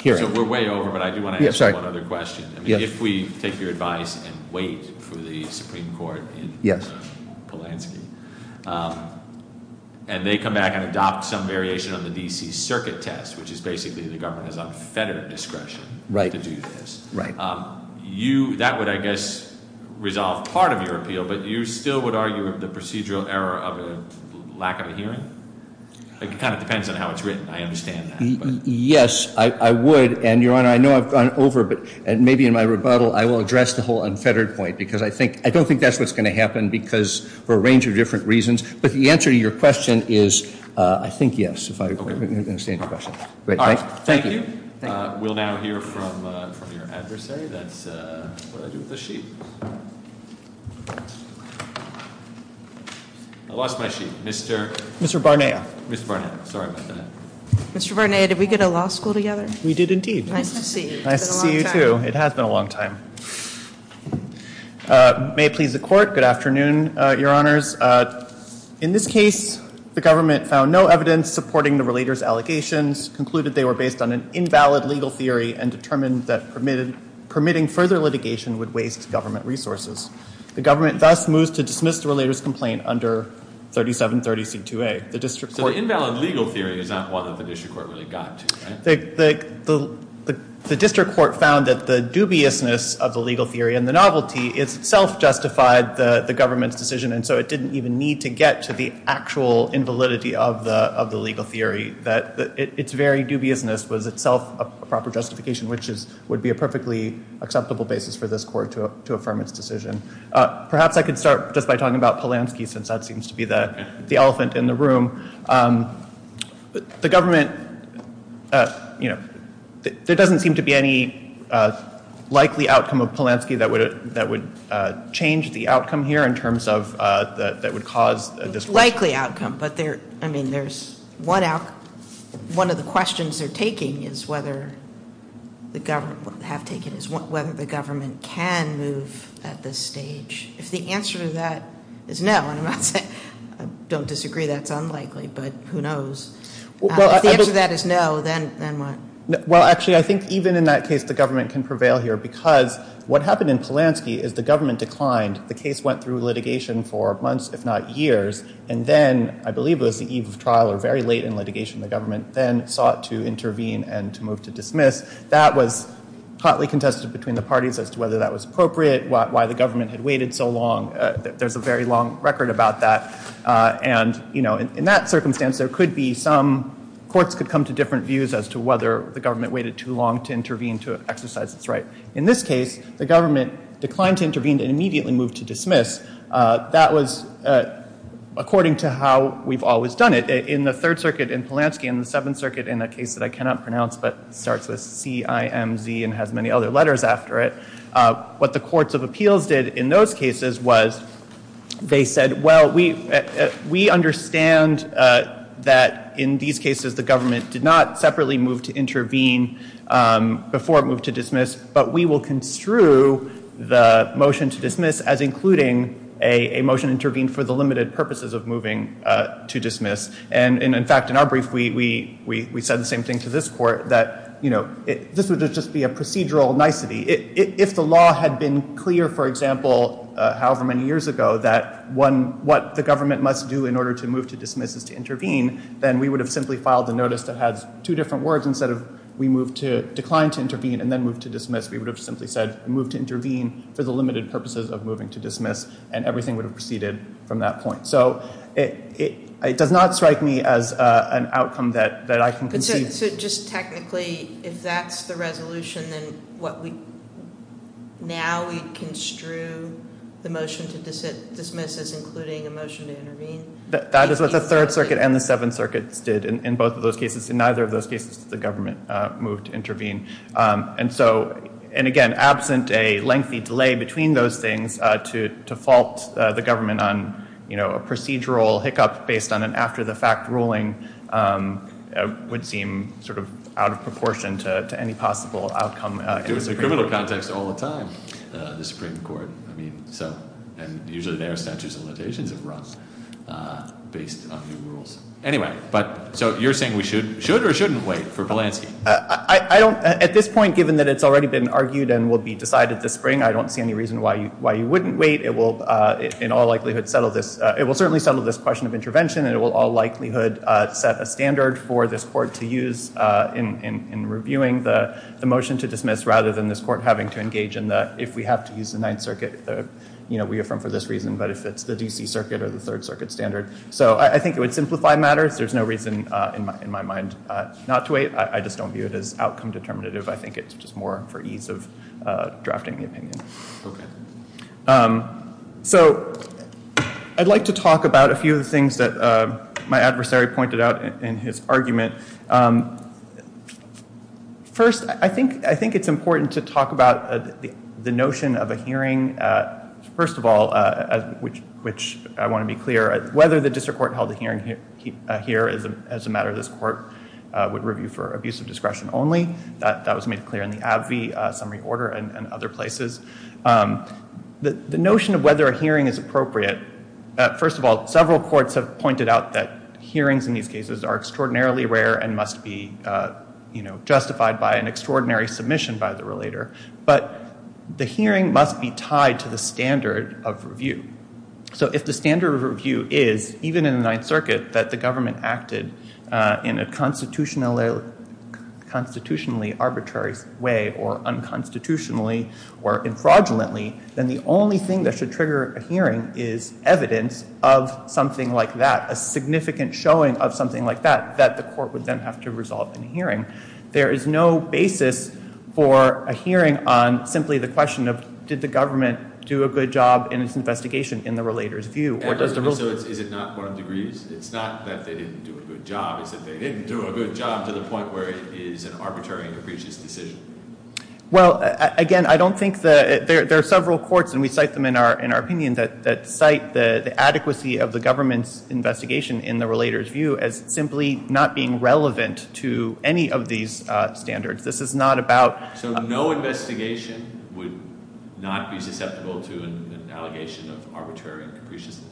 hearing. So we're way over, but I do want to ask one other question. If we take your advice and wait for the Supreme Court in Polanski, and they come back and adopt some variation on the D.C. circuit test, which is basically the government has unfettered discretion to do this, that would, I guess, resolve part of your appeal, but you still would argue of the procedural error of a lack of a hearing? It kind of depends on how it's written. I understand that. Yes, I would, and, Your Honor, I know I've gone over, but maybe in my rebuttal I will address the whole unfettered point, because I don't think that's what's going to happen for a range of different reasons, but the answer to your question is, I think, yes, if I understand your question. All right. Thank you. We'll now hear from your adversary. That's what I do with the sheet. I lost my sheet. Mr. Barnea. Mr. Barnea. Sorry about that. Mr. Barnea, did we go to law school together? We did, indeed. Nice to see you. It's been a long time. May it please the Court, good afternoon, Your Honors. In this case, the government found no evidence supporting the relator's allegations, concluded they were based on an invalid legal theory, and determined that permitting further litigation would waste government resources. The government thus moves to dismiss the relator's complaint under 3730C2A. So the invalid legal theory is not one that the district court really got to, right? The district court found that the dubiousness of the legal theory and the novelty itself justified the government's decision, and so it didn't even need to get to the actual invalidity of the legal theory. Its very dubiousness was itself a proper justification, which would be a perfectly acceptable basis for this court to affirm its decision. Perhaps I could start just by talking about Polanski, since that seems to be the elephant in the room. The government, you know, there doesn't seem to be any likely outcome of Polanski that would change the outcome here in terms of, that would cause this question. Likely outcome, but there, I mean, there's one out, one of the questions they're taking is whether the government, have taken is whether the government can move at this stage. If the answer to that is no, and I'm not saying, I don't disagree that's unlikely, but who knows. If the answer to that is no, then what? Well, actually, I think even in that case the government can prevail here, because what happened in Polanski is the government declined. The case went through litigation for months, if not years, and then, I believe it was the eve of trial or very late in litigation, the government then sought to intervene and to move to dismiss. That was hotly contested between the parties as to whether that was appropriate, why the government had waited so long. There's a very long record about that. And, you know, in that circumstance, there could be some, courts could come to different views as to whether the government waited too long to intervene to exercise its right. In this case, the government declined to intervene and immediately moved to dismiss. That was according to how we've always done it. In the Third Circuit in Polanski, in the Seventh Circuit, in a case that I cannot pronounce but starts with CIMZ and has many other letters after it, what the courts of appeals did in those cases was they said, well, we understand that in these cases the government did not separately move to intervene before it moved to dismiss, but we will construe the motion to dismiss as including a motion intervened for the limited purposes of moving to dismiss. And, in fact, in our brief we said the same thing to this court, that, you know, this would just be a procedural nicety. If the law had been clear, for example, however many years ago, that what the government must do in order to move to dismiss is to intervene, then we would have simply filed a notice that has two different words. Instead of we moved to decline to intervene and then move to dismiss, we would have simply said move to intervene for the limited purposes of moving to dismiss, and everything would have proceeded from that point. So it does not strike me as an outcome that I can conceive. So just technically, if that's the resolution, then now we construe the motion to dismiss as including a motion to intervene? That is what the Third Circuit and the Seventh Circuit did in both of those cases. In neither of those cases did the government move to intervene. And, again, absent a lengthy delay between those things, to fault the government on a procedural hiccup based on an after-the-fact ruling would seem sort of out of proportion to any possible outcome. It was a criminal context all the time, the Supreme Court. I mean, so, and usually their statutes and limitations have run based on new rules. Anyway, so you're saying we should or shouldn't wait for Polanski? I don't, at this point, given that it's already been argued and will be decided this spring, I don't see any reason why you wouldn't wait. It will, in all likelihood, settle this. It will certainly settle this question of intervention, and it will all likelihood set a standard for this court to use in reviewing the motion to dismiss, rather than this court having to engage in the, if we have to use the Ninth Circuit, we affirm for this reason, but if it's the D.C. Circuit or the Third Circuit standard. So I think it would simplify matters. There's no reason in my mind not to wait. I just don't view it as outcome determinative. I think it's just more for ease of drafting the opinion. So I'd like to talk about a few of the things that my adversary pointed out in his argument. First, I think it's important to talk about the notion of a hearing. First of all, which I want to be clear, whether the district court held a hearing here as a matter this court would review for abusive discretion only, that was made clear in the Abbey Summary Order and other places. The notion of whether a hearing is appropriate, first of all, several courts have pointed out that hearings in these cases are extraordinarily rare and must be justified by an extraordinary submission by the relator, but the hearing must be tied to the standard of review. So if the standard of review is, even in the Ninth Circuit, that the government acted in a constitutionally arbitrary way or unconstitutionally or infraudulently, then the only thing that should trigger a hearing is evidence of something like that, a significant showing of something like that, that the court would then have to resolve in a hearing. There is no basis for a hearing on simply the question of, did the government do a good job in its investigation in the relator's view? And so is it not one of degrees? It's not that they didn't do a good job. It's that they didn't do a good job to the point where it is an arbitrary and capricious decision. Well, again, I don't think that – there are several courts, and we cite them in our opinion, that cite the adequacy of the government's investigation in the relator's view as simply not being relevant to any of these standards. This is not about – So no investigation would not be susceptible to an allegation of arbitrary and capriciousness?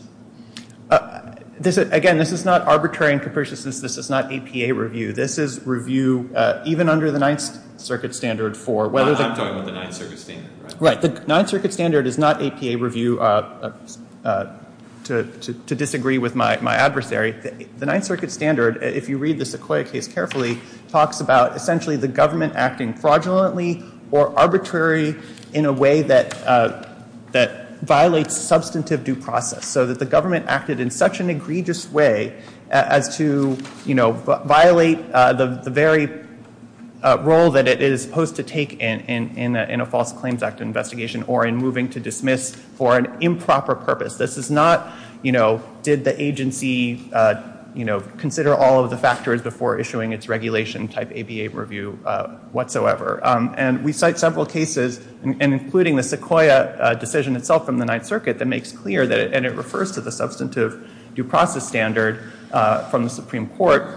Again, this is not arbitrary and capriciousness. This is not APA review. This is review even under the Ninth Circuit standard for whether – I'm talking about the Ninth Circuit standard, right? Right. The Ninth Circuit standard is not APA review to disagree with my adversary. The Ninth Circuit standard, if you read the Sequoia case carefully, talks about essentially the government acting fraudulently or arbitrary in a way that violates substantive due process, so that the government acted in such an egregious way as to, you know, violate the very role that it is supposed to take in a false claims act investigation or in moving to dismiss for an improper purpose. This is not, you know, did the agency, you know, consider all of the factors before issuing its regulation type APA review whatsoever. And we cite several cases, including the Sequoia decision itself from the Ninth Circuit that makes clear that – and it refers to the substantive due process standard from the Supreme Court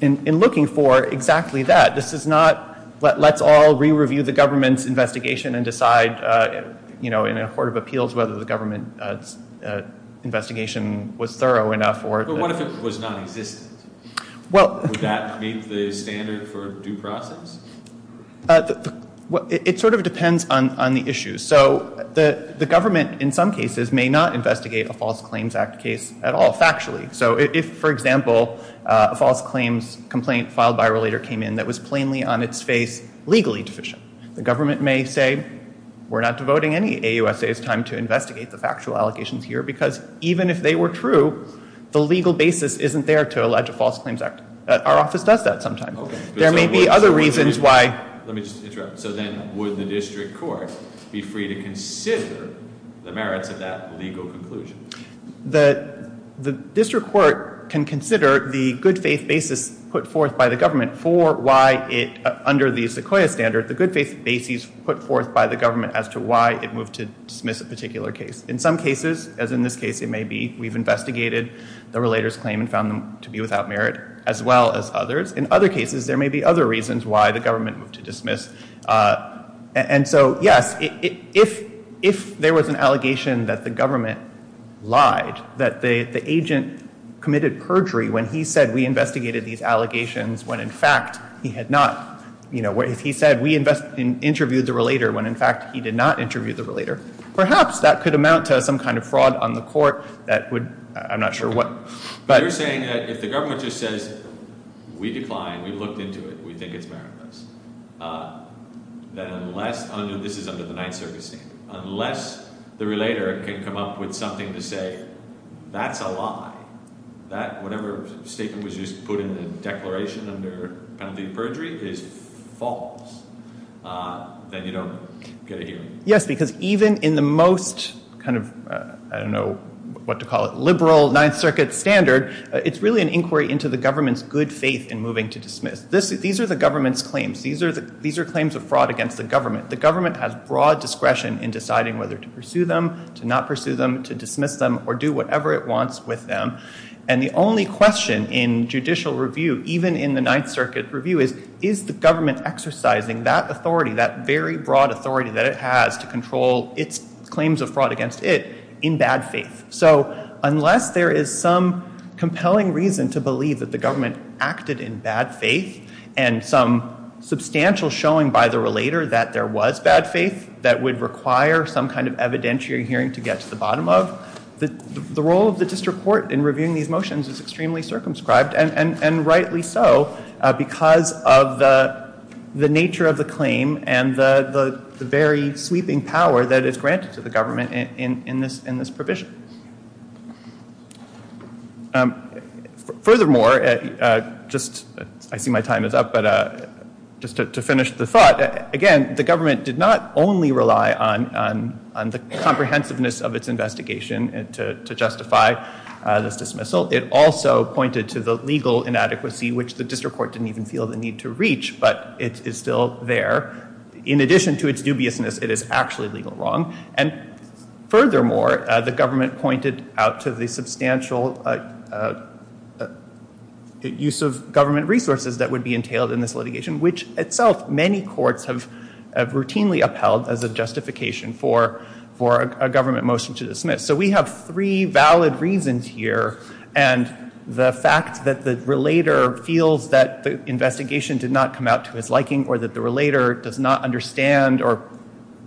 in looking for exactly that. This is not let's all re-review the government's investigation and decide, you know, in a court of appeals whether the government's investigation was thorough enough or – But what if it was nonexistent? Well – Would that meet the standard for due process? It sort of depends on the issue. So the government in some cases may not investigate a false claims act case at all factually. So if, for example, a false claims complaint filed by a relator came in that was plainly on its face legally deficient, the government may say we're not devoting any AUSA's time to investigate the factual allegations here because even if they were true, the legal basis isn't there to allege a false claims act. Our office does that sometimes. There may be other reasons why – Let me just interrupt. So then would the district court be free to consider the merits of that legal conclusion? The district court can consider the good faith basis put forth by the government for why it – under the Sequoia standard, the good faith basis put forth by the government as to why it moved to dismiss a particular case. In some cases, as in this case it may be, we've investigated the relator's claim and found them to be without merit as well as others. In other cases, there may be other reasons why the government moved to dismiss. And so, yes, if there was an allegation that the government lied, that the agent committed perjury when he said we investigated these allegations when, in fact, he had not – if he said we interviewed the relator when, in fact, he did not interview the relator, perhaps that could amount to some kind of fraud on the court that would – I'm not sure what – You're saying that if the government just says we declined, we looked into it, we think it's meritless, that unless – this is under the Ninth Circuit's name – unless the relator can come up with something to say that's a lie, that whatever statement was just put in the declaration under penalty of perjury is false, then you don't get a hearing. Yes, because even in the most kind of – I don't know what to call it – liberal Ninth Circuit standard, it's really an inquiry into the government's good faith in moving to dismiss. These are the government's claims. These are claims of fraud against the government. The government has broad discretion in deciding whether to pursue them, to not pursue them, to dismiss them, or do whatever it wants with them. And the only question in judicial review, even in the Ninth Circuit review, is is the government exercising that authority, that very broad authority that it has to control its claims of fraud against it in bad faith? So unless there is some compelling reason to believe that the government acted in bad faith and some substantial showing by the relator that there was bad faith that would require some kind of evidentiary hearing to get to the bottom of, the role of the district court in reviewing these motions is extremely circumscribed, and rightly so because of the nature of the claim and the very sweeping power that is granted to the government in this provision. Furthermore, just – I see my time is up, but just to finish the thought – again, the government did not only rely on the comprehensiveness of its investigation to justify this dismissal. It also pointed to the legal inadequacy, which the district court didn't even feel the need to reach, but it is still there. In addition to its dubiousness, it is actually legal wrong. And furthermore, the government pointed out to the substantial use of government resources that would be entailed in this litigation, which itself many courts have routinely upheld as a justification for a government motion to dismiss. So we have three valid reasons here. And the fact that the relator feels that the investigation did not come out to his liking or that the relator does not understand or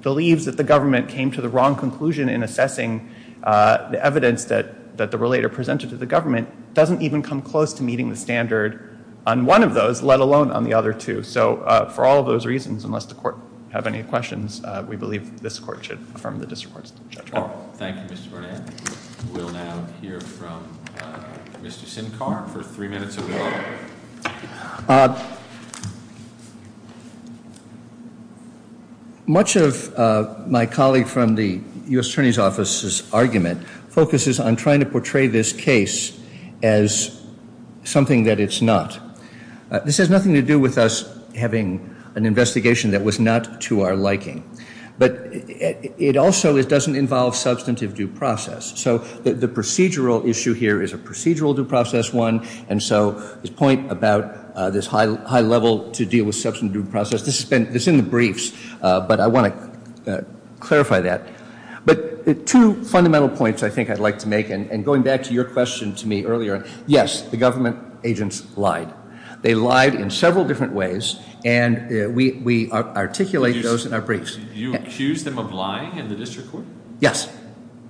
believes that the government came to the wrong conclusion in assessing the evidence that the relator presented to the government doesn't even come close to meeting the standard on one of those, let alone on the other two. So for all of those reasons, unless the court have any questions, we believe this court should affirm the district court's judgment. Thank you, Mr. Bernanke. We'll now hear from Mr. Sinkar for three minutes of your time. Much of my colleague from the U.S. Attorney's Office's argument focuses on trying to portray this case as something that it's not. This has nothing to do with us having an investigation that was not to our liking. But it also doesn't involve substantive due process. So the procedural issue here is a procedural due process one, and so his point about this high level to deal with substantive due process, this is in the briefs, but I want to clarify that. But two fundamental points I think I'd like to make, and going back to your question to me earlier, yes, the government agents lied. They lied in several different ways, and we articulate those in our briefs. You accused them of lying in the district court? Yes.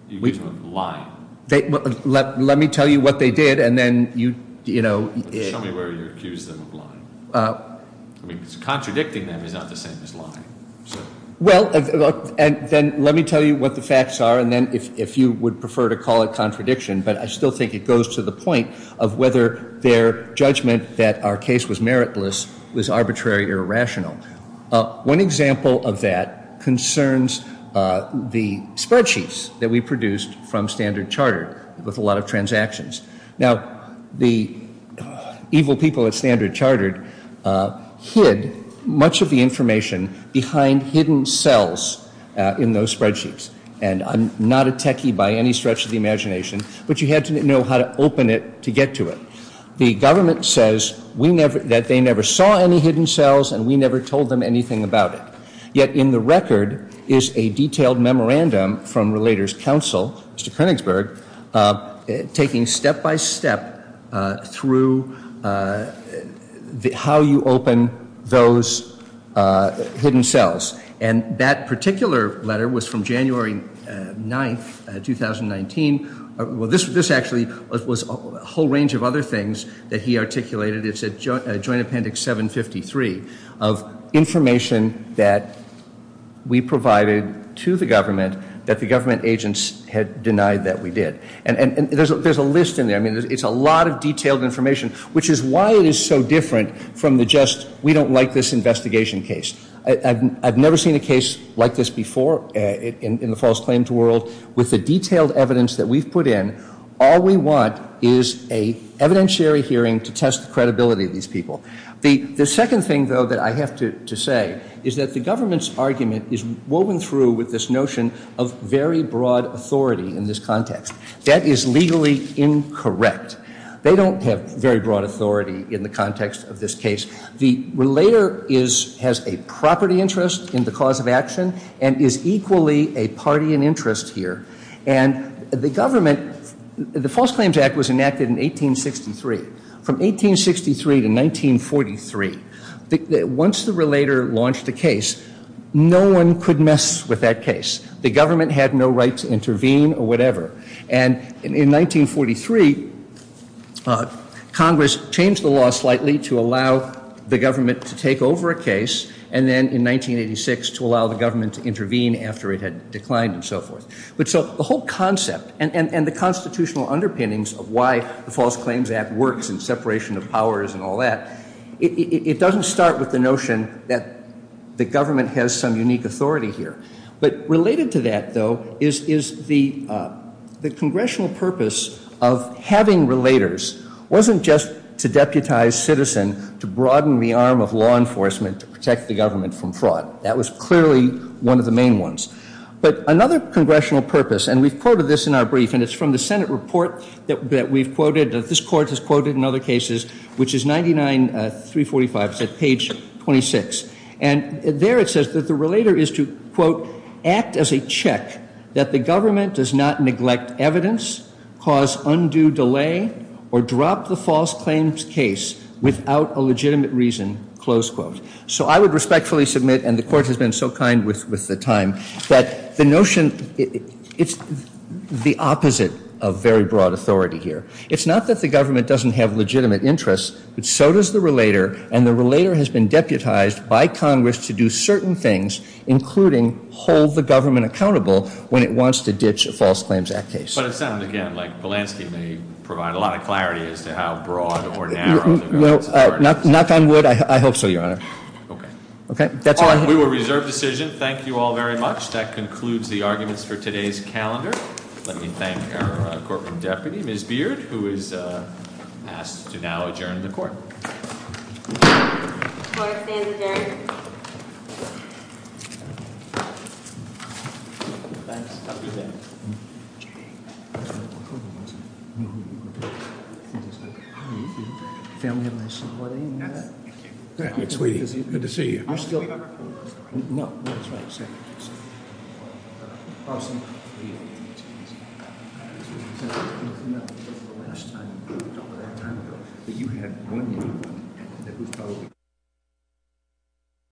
You accused them of lying. Let me tell you what they did, and then you, you know. Show me where you accused them of lying. Contradicting them is not the same as lying. Well, and then let me tell you what the facts are, and then if you would prefer to call it contradiction, but I still think it goes to the point of whether their judgment that our case was meritless was arbitrary or irrational. One example of that concerns the spreadsheets that we produced from Standard Chartered with a lot of transactions. Now, the evil people at Standard Chartered hid much of the information behind hidden cells in those spreadsheets, and I'm not a techie by any stretch of the imagination, but you had to know how to open it to get to it. The government says that they never saw any hidden cells, and we never told them anything about it. Yet in the record is a detailed memorandum from Relators Council, Mr. Koenigsberg, taking step-by-step through how you open those hidden cells, and that particular letter was from January 9th, 2019. Well, this actually was a whole range of other things that he articulated. It's a Joint Appendix 753 of information that we provided to the government that the government agents had denied that we did. And there's a list in there. I mean, it's a lot of detailed information, which is why it is so different from the just we don't like this investigation case. I've never seen a case like this before in the false claims world. With the detailed evidence that we've put in, all we want is an evidentiary hearing to test the credibility of these people. The second thing, though, that I have to say is that the government's argument is woven through with this notion of very broad authority in this context. That is legally incorrect. They don't have very broad authority in the context of this case. The relator has a property interest in the cause of action and is equally a party in interest here. And the government, the False Claims Act was enacted in 1863. From 1863 to 1943, once the relator launched a case, no one could mess with that case. The government had no right to intervene or whatever. And in 1943, Congress changed the law slightly to allow the government to take over a case, and then in 1986 to allow the government to intervene after it had declined and so forth. But so the whole concept and the constitutional underpinnings of why the False Claims Act works and separation of powers and all that, it doesn't start with the notion that the government has some unique authority here. But related to that, though, is the congressional purpose of having relators wasn't just to deputize citizen, to broaden the arm of law enforcement, to protect the government from fraud. That was clearly one of the main ones. But another congressional purpose, and we've quoted this in our brief, and it's from the Senate report that we've quoted, that this court has quoted in other cases, which is 99-345, page 26. And there it says that the relator is to, quote, act as a check that the government does not neglect evidence, cause undue delay, or drop the false claims case without a legitimate reason, close quote. So I would respectfully submit, and the court has been so kind with the time, that the notion, it's the opposite of very broad authority here. It's not that the government doesn't have legitimate interests, but so does the relator, and the relator has been deputized by Congress to do certain things, including hold the government accountable when it wants to ditch a False Claims Act case. But it sounds, again, like Polanski may provide a lot of clarity as to how broad or narrow the government's authority is. Knock on wood, I hope so, Your Honor. Okay. We will reserve decision. Thank you all very much. That concludes the arguments for today's calendar. Let me thank our corporate deputy, Ms. Beard, who is asked to now adjourn the court. Court is adjourned. Thank you.